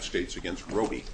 States v. Robey.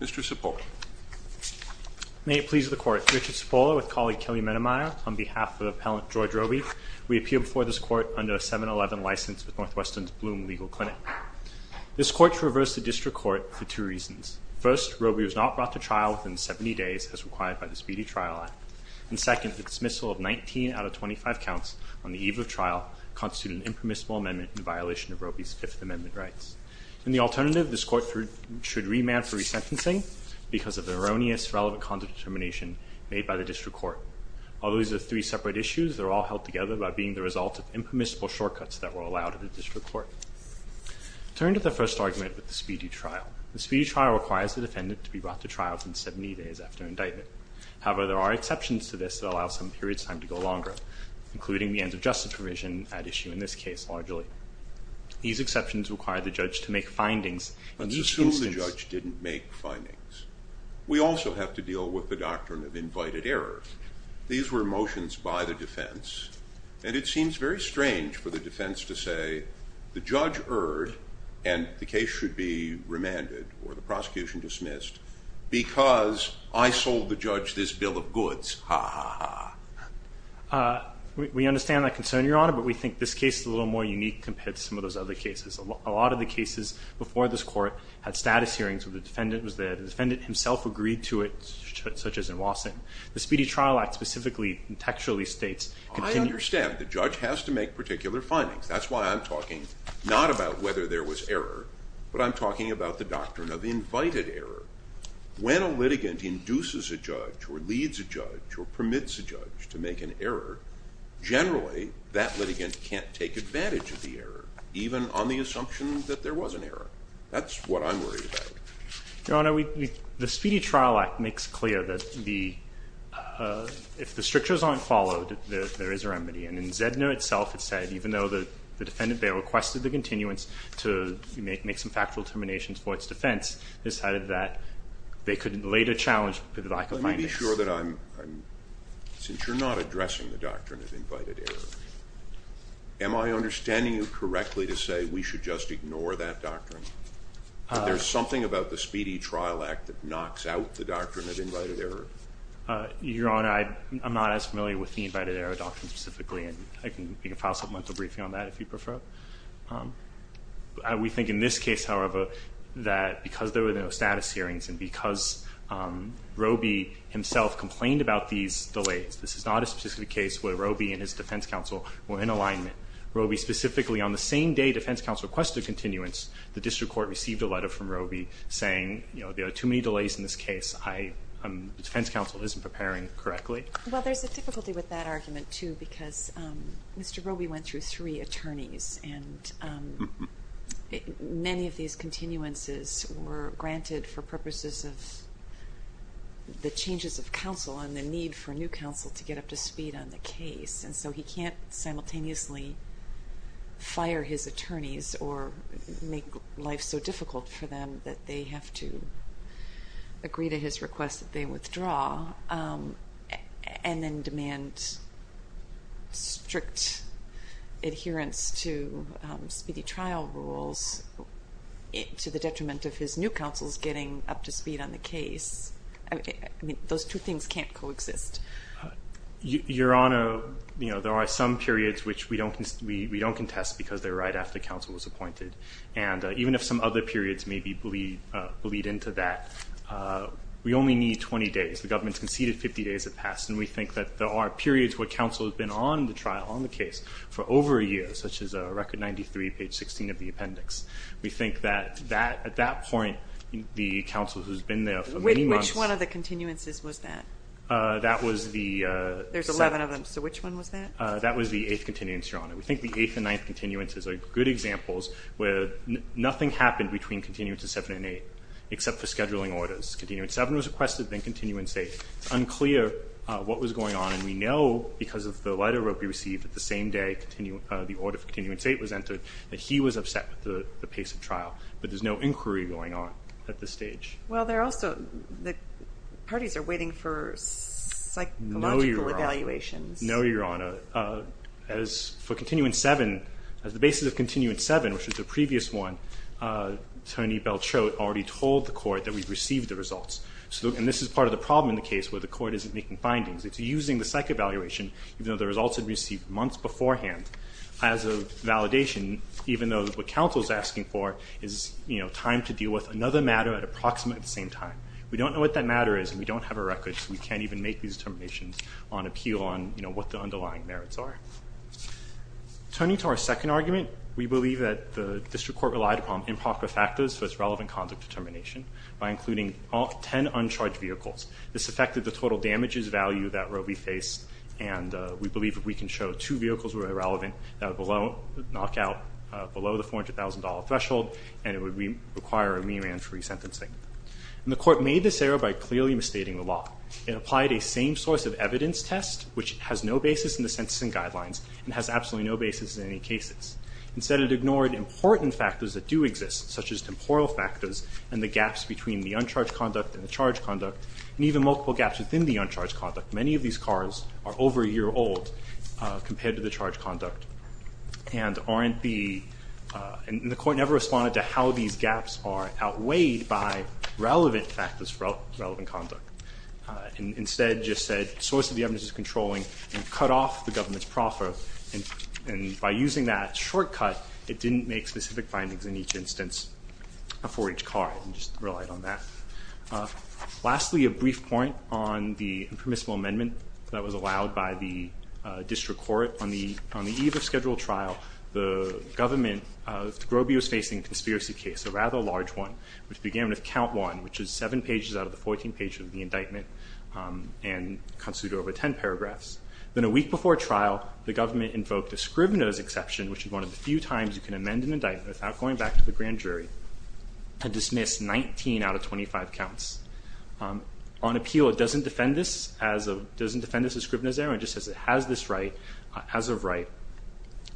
Mr. Cipolla. May it please the court. Richard Cipolla with colleague Kelly Mennemeyer on behalf of appellant George Robey. We appear before this court under a 7-11 license with Northwestern's Bloom Legal Clinic. This court should reverse the district court for two reasons. First, Robey was not brought to trial within 70 days as required by the Speedy Trial Act. And second, the dismissal of 19 out of 25 counts on the eve of trial constitute an impermissible amendment in violation of Robey's Fifth Amendment rights. In the alternative, this court should remand for because of the erroneous relevant conduct determination made by the district court. Although these are three separate issues, they're all held together by being the result of impermissible shortcuts that were allowed at the district court. Turn to the first argument with the Speedy Trial. The Speedy Trial requires the defendant to be brought to trial within 70 days after indictment. However, there are exceptions to this that allow some periods time to go longer, including the end of justice provision at issue in this case largely. These exceptions require the judge to make findings. I'm sure the judge didn't make findings. We also have to deal with the doctrine of invited error. These were motions by the defense, and it seems very strange for the defense to say the judge erred, and the case should be remanded or the prosecution dismissed because I sold the judge this bill of goods. Ha ha ha. We understand that concern, Your Honor, but we think this case is a little more unique compared to some of those other cases. A lot of the cases before this the defendant himself agreed to it, such as in Wasson. The Speedy Trial Act specifically and textually states... I understand the judge has to make particular findings. That's why I'm talking not about whether there was error, but I'm talking about the doctrine of invited error. When a litigant induces a judge or leads a judge or permits a judge to make an error, generally that litigant can't take advantage of the error, even on the side of the defendant. Your Honor, the Speedy Trial Act makes clear that if the strictures aren't followed, there is a remedy. And in Zedner itself, it said, even though the defendant there requested the continuance to make some factual determinations for its defense, decided that they could later challenge the lack of findings. Let me be sure that I'm... Since you're not addressing the doctrine of invited error, am I understanding you correctly to say we should just ignore that doctrine? There's something about the Speedy Trial Act that knocks out the doctrine of invited error. Your Honor, I'm not as familiar with the invited error doctrine specifically, and I can file some mental briefing on that if you prefer. We think in this case, however, that because there were no status hearings and because Robey himself complained about these delays, this is not a specific case where Robey and his defense counsel were in alignment. Robey specifically on the same day defense counsel requested continuance, the district court received a letter from Robey saying, you know, there are too many delays in this case. The defense counsel isn't preparing correctly. Well, there's a difficulty with that argument too, because Mr. Robey went through three attorneys, and many of these continuances were granted for purposes of the changes of counsel and the need for new counsel to get up to speed on the case. And so he can't simultaneously fire his attorneys or make life so difficult for them that they have to agree to his request that they withdraw, and then demand strict adherence to speedy trial rules to the detriment of his new counsel's getting up to speed on the case. I mean, those two things can't coexist. Your Honor, you know, there are some periods which we don't contest because they're right after counsel was appointed. And even if some other periods maybe bleed into that, we only need 20 days. The government's conceded 50 days have passed, and we think that there are periods where counsel has been on the trial, on the case, for over a year, such as Record 93, page 16 of the appendix. We think that at that point, the counsel who's been there for many months Which one of the continuances was that? That was the There's 11 of them. So which one was that? That was the eighth continuance, Your Honor. We think the eighth and ninth continuances are good examples where nothing happened between continuance of 7 and 8, except for scheduling orders. Continuance 7 was requested, then continuance 8. It's unclear what was going on, and we know because of the letter that we received that the same day the order for continuance 8 was entered, that he was upset with the pace of trial. But there's no inquiry going on at this stage. Well, they're also – the parties are waiting for psychological evaluations. No, Your Honor. As for continuance 7, as the basis of continuance 7, which was the previous one, Tony Belchote already told the court that we've received the results. So, and this is part of the problem in the case where the court isn't making findings. It's using the psych evaluation, even though the results had been received months beforehand, as a validation, even though what counsel is asking for is, you know, time to deal with another matter at approximately the same time. We don't know what that matter is, and we don't have a record, so we can't even make these determinations on appeal on, you know, what the underlying merits are. Turning to our second argument, we believe that the district court relied upon improper factors for its relevant conduct determination by including 10 uncharged vehicles. This affected the total damages value that Roe v. Face, and we believe that we can show two vehicles were irrelevant that would knock out below the $400,000 threshold, and it would require a me-man for resentencing. And the court made this error by clearly misstating the law. It applied a same source of evidence test, which has no basis in the sentencing guidelines, and has absolutely no basis in any cases. Instead, it ignored important factors that do exist, such as temporal factors and the gaps between the uncharged conduct and the charged conduct, and even multiple gaps within the uncharged conduct. Many of these cars are over a year old compared to the charged conduct, and aren't the, and the court never responded to how these gaps are outweighed by relevant factors for relevant conduct, and instead just said, source of the evidence is controlling, and cut off the government's proffer. And, and by using that shortcut, it didn't make specific findings in each instance for each car, and just relied on that. Lastly, a brief point on the permissible amendment that was allowed by the district court. On the, on the eve of scheduled trial, the government, Groby was facing a conspiracy case, a rather large one, which began with count one, which is seven pages out of the 14 pages of the indictment, and constitute over 10 paragraphs. Then a week before trial, the government invoked a scrivener's exception, which is one of the few times you can amend an indictment without going back to the grand jury, and dismissed 19 out of 25 counts. On appeal, it doesn't defend this as a, doesn't defend this as scrivener's error, it just says it has this right, as of right.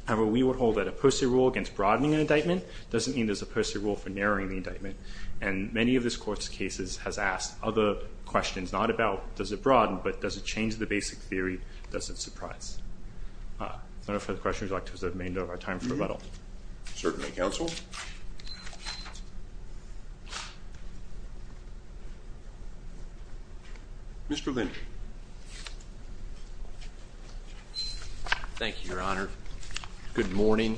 However, we would hold that a posted rule against broadening an indictment doesn't mean there's a posted rule for narrowing the indictment. And many of this court's cases has asked other questions, not about does it broaden, but does it change the basic theory, does it surprise? If there are no further questions, I'd like to reserve the remainder of our time for rebuttal. Certainly, counsel. Mr. Linder. Thank you, your honor. Good morning.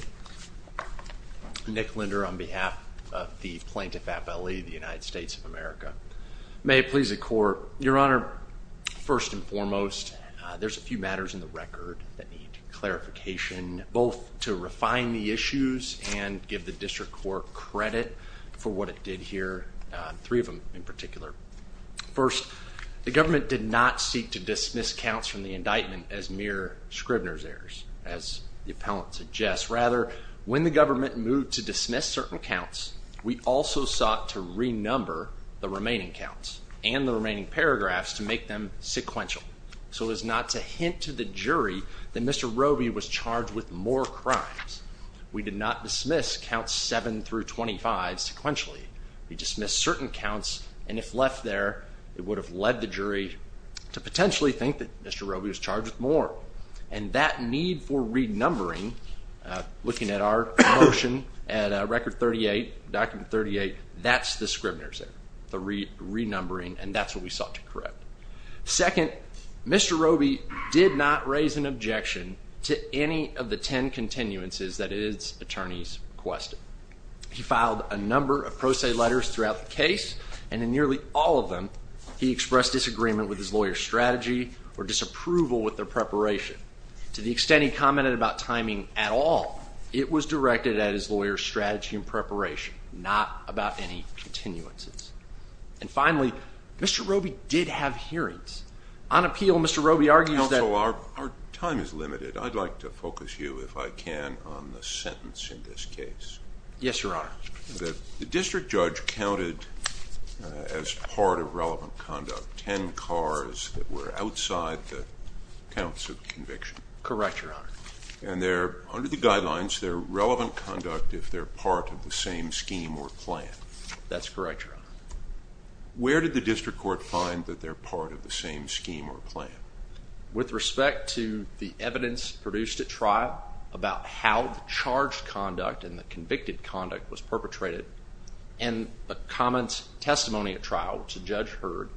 Nick Linder on behalf of the plaintiff, FLE, the United States of America. May it please the court. Your honor, first and foremost, there's a few matters in the record that need clarification, both to refine the issues and give the district court credit for what it did here, three of them in particular. First, the government did not seek to dismiss counts from the indictment as mere scrivener's errors, as the appellant suggests. Rather, when the government moved to dismiss certain counts, we also sought to renumber the remaining counts and the remaining paragraphs to make them sequential, so as not to hint to the jury that Mr. Roby was charged with more crimes. We did not dismiss counts 7 through 25 sequentially. We dismissed certain counts, and if left there, it would have led the jury to potentially think that Mr. Roby was charged with more. And that need for document 38, that's the scrivener's error, the renumbering, and that's what we sought to correct. Second, Mr. Roby did not raise an objection to any of the ten continuances that his attorneys requested. He filed a number of pro se letters throughout the case, and in nearly all of them, he expressed disagreement with his lawyer's strategy or disapproval with their preparation. To the extent he commented about timing at all, it was directed at his lawyer's preparation, not about any continuances. And finally, Mr. Roby did have hearings. On appeal, Mr. Roby argues that... Counsel, our time is limited. I'd like to focus you, if I can, on the sentence in this case. Yes, Your Honor. The district judge counted as part of relevant conduct ten cars that were outside the counts of conviction. Correct, Your Honor. And they're, under the guidelines, they're relevant conduct if they're part of the same scheme or plan. That's correct, Your Honor. Where did the district court find that they're part of the same scheme or plan? With respect to the evidence produced at trial about how the charged conduct and the convicted conduct was perpetrated, and the comments, testimony at trial to Judge Heard,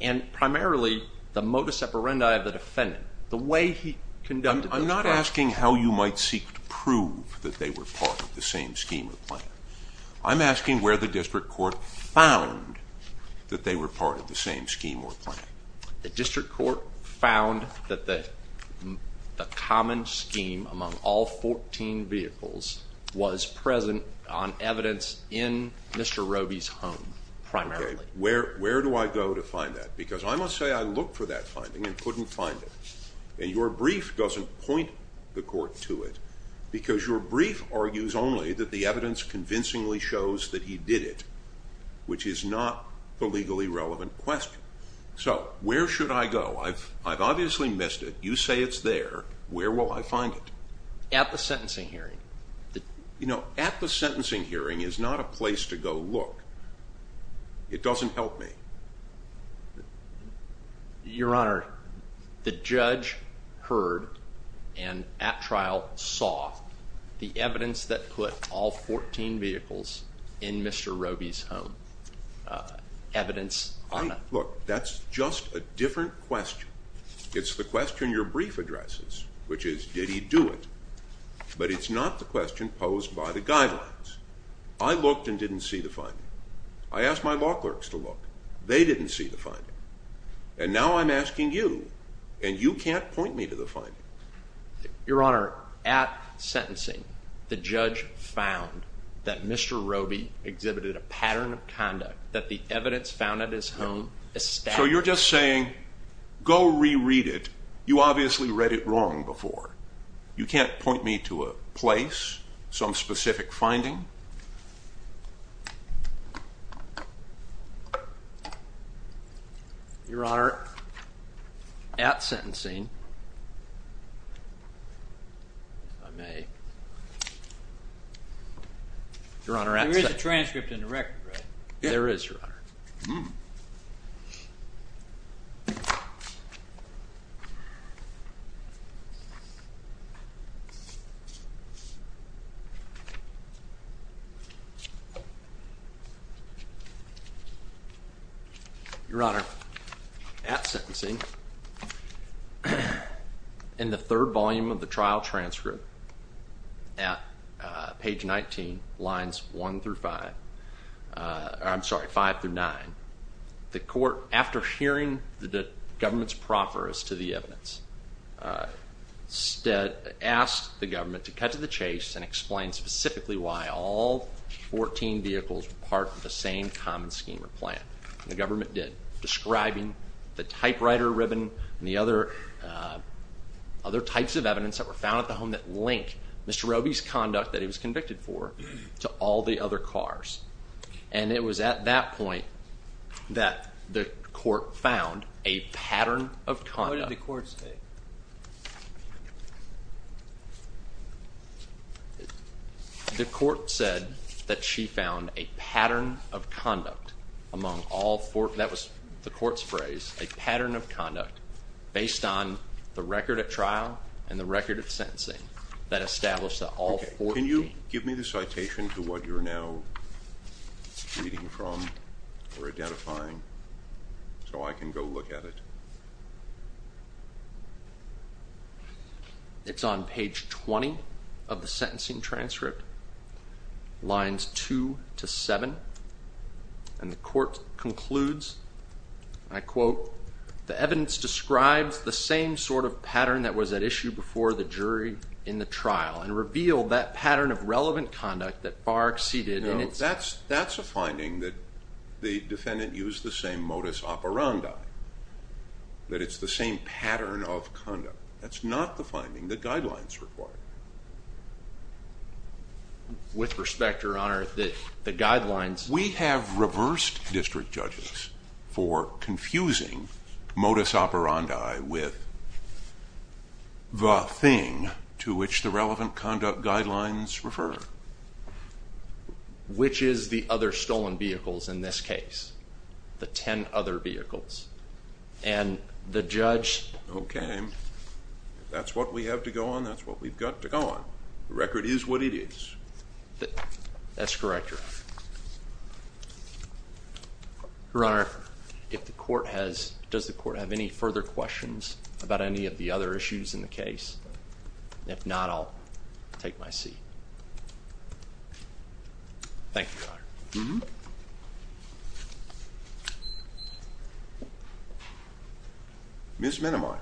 and primarily the modus operandi of the defendant, the way he conducted... I'm not asking how you might seek to prove that they were part of the same scheme or plan. I'm asking where the district court found that they were part of the same scheme or plan. The district court found that the common scheme among all 14 vehicles was present on evidence in Mr. Roby's home, primarily. Where do I go to find that? Because I must say I looked for that finding and couldn't find it. And your brief doesn't point the court to it, because your brief argues only that the evidence convincingly shows that he did it, which is not the legally relevant question. So where should I go? I've obviously missed it. You say it's there. Where will I find it? At the sentencing hearing. You know, at the sentencing hearing is not a place to go look. It doesn't help me. Your Honor, the judge heard and at trial saw the evidence that put all 14 vehicles in Mr. Roby's home. Evidence... Look, that's just a different question. It's the question your brief addresses, which is, did he do it? But it's not the question posed by the guidelines. I looked and didn't see the finding. I asked my attorneys, they didn't see the finding. And now I'm asking you, and you can't point me to the finding. Your Honor, at sentencing, the judge found that Mr. Roby exhibited a pattern of conduct that the evidence found at his home established. So you're just saying, go reread it. You obviously read it wrong Your Honor, at sentencing... There is a transcript in the record, right? There is, Your Honor. Your Honor, at sentencing, in the third volume of the trial transcript, at page 19, lines one through five, I'm sorry, five through nine, the court, after hearing the government's profference to the evidence, instead asked the government to cut to the chase and explain specifically why all 14 vehicles were part of the same common scheme or plan. The government did, describing the typewriter ribbon and the other types of evidence that were found at the home that link Mr. Roby's conduct that he was convicted for to all the other cars. And it was at that point that the court found a pattern of conduct. What did the court say? The court said that she found a pattern of conduct among all four, that was the court's phrase, a pattern of conduct based on the record at trial and the record of sentencing that established that all four... Can you give me the citation to what you're now reading from or identifying so I can go look at it? It's on page 20 of the sentencing transcript, lines two to seven, and the court concludes, I quote, the evidence describes the same sort of pattern that was at issue before the jury in the trial and revealed that pattern of relevant conduct that far exceeded... No, that's a finding that the conduct, that's not the finding that guidelines require. With respect, your honor, the guidelines... We have reversed district judges for confusing modus operandi with the thing to which the relevant conduct guidelines refer. Which is the other stolen vehicles in this case, the ten other vehicles, and the that's what we have to go on, that's what we've got to go on. The record is what it is. That's correct, your honor. Your honor, if the court has, does the court have any further questions about any of the other issues in the case? If not, I'll take my Mm-hmm. Ms. Miniman.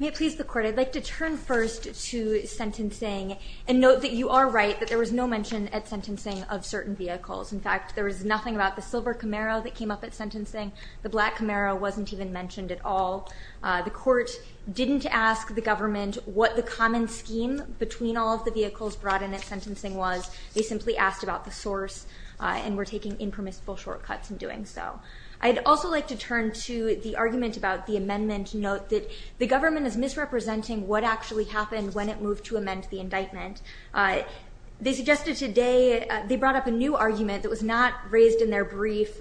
May it please the court, I'd like to turn first to sentencing and note that you are right, that there was no mention at sentencing of certain vehicles. In fact, there was nothing about the silver Camaro that came up at sentencing. The black Camaro wasn't even mentioned at all. The court didn't ask the government what the common scheme between all of the vehicles brought in at sentencing was. They simply asked about the source and were taking impermissible shortcuts in doing so. I'd also like to turn to the argument about the amendment. Note that the government is misrepresenting what actually happened when it moved to amend the indictment. They suggested today, they brought up a new argument that was not raised in their brief,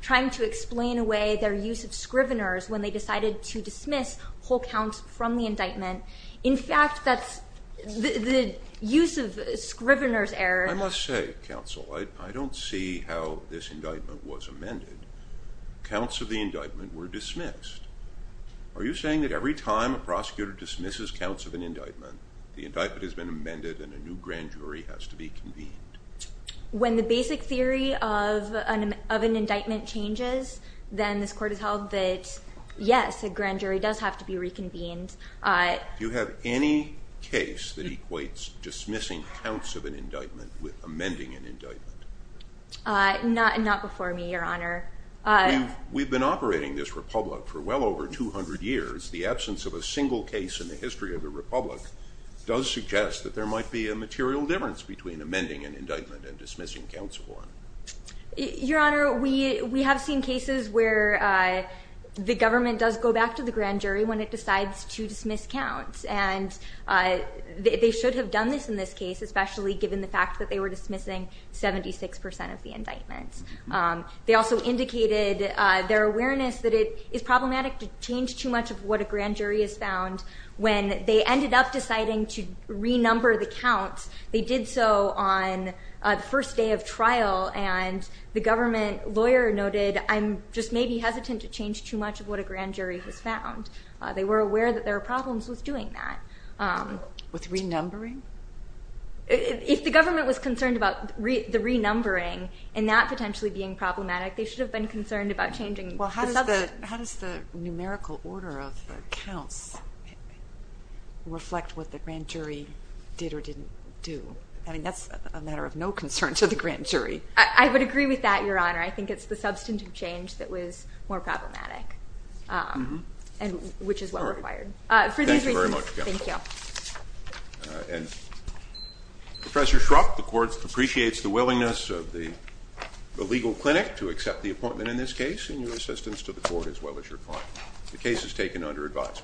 trying to explain away their use of scriveners when they decided to dismiss whole counts from the indictment. In fact, that's the use of scriveners error. I must say, counsel, I don't see how this indictment was amended. Counts of the indictment were dismissed. Are you saying that every time a prosecutor dismisses counts of an indictment, the indictment has been amended and a new grand jury has to be convened? When the basic theory of an indictment changes, then this court has that yes, a grand jury does have to be reconvened. Do you have any case that equates dismissing counts of an indictment with amending an indictment? Not before me, Your Honor. We've been operating this Republic for well over 200 years. The absence of a single case in the history of the Republic does suggest that there might be a material difference between amending an indictment and dismissing counts of one. Your Honor, we have seen cases where the government does go back to the grand jury when it decides to dismiss counts, and they should have done this in this case, especially given the fact that they were dismissing 76% of the indictments. They also indicated their awareness that it is problematic to change too much of what a grand jury has found. When they ended up deciding to renumber the counts, they did so on the first day of trial, and the government lawyer noted, I'm just maybe hesitant to change too much of what a grand jury has found. They were aware that there are problems with doing that. With renumbering? If the government was concerned about the renumbering and that potentially being problematic, they should have been concerned about changing. Well, how does the numerical order of counts reflect what the grand jury did or didn't do? I mean, that's a concern to the grand jury. I would agree with that, Your Honor. I think it's the substantive change that was more problematic, and which is what we required. Thank you very much. And Professor Shrupp, the court appreciates the willingness of the legal clinic to accept the appointment in this case and your assistance to the court as well as your client. The case is taken under advice.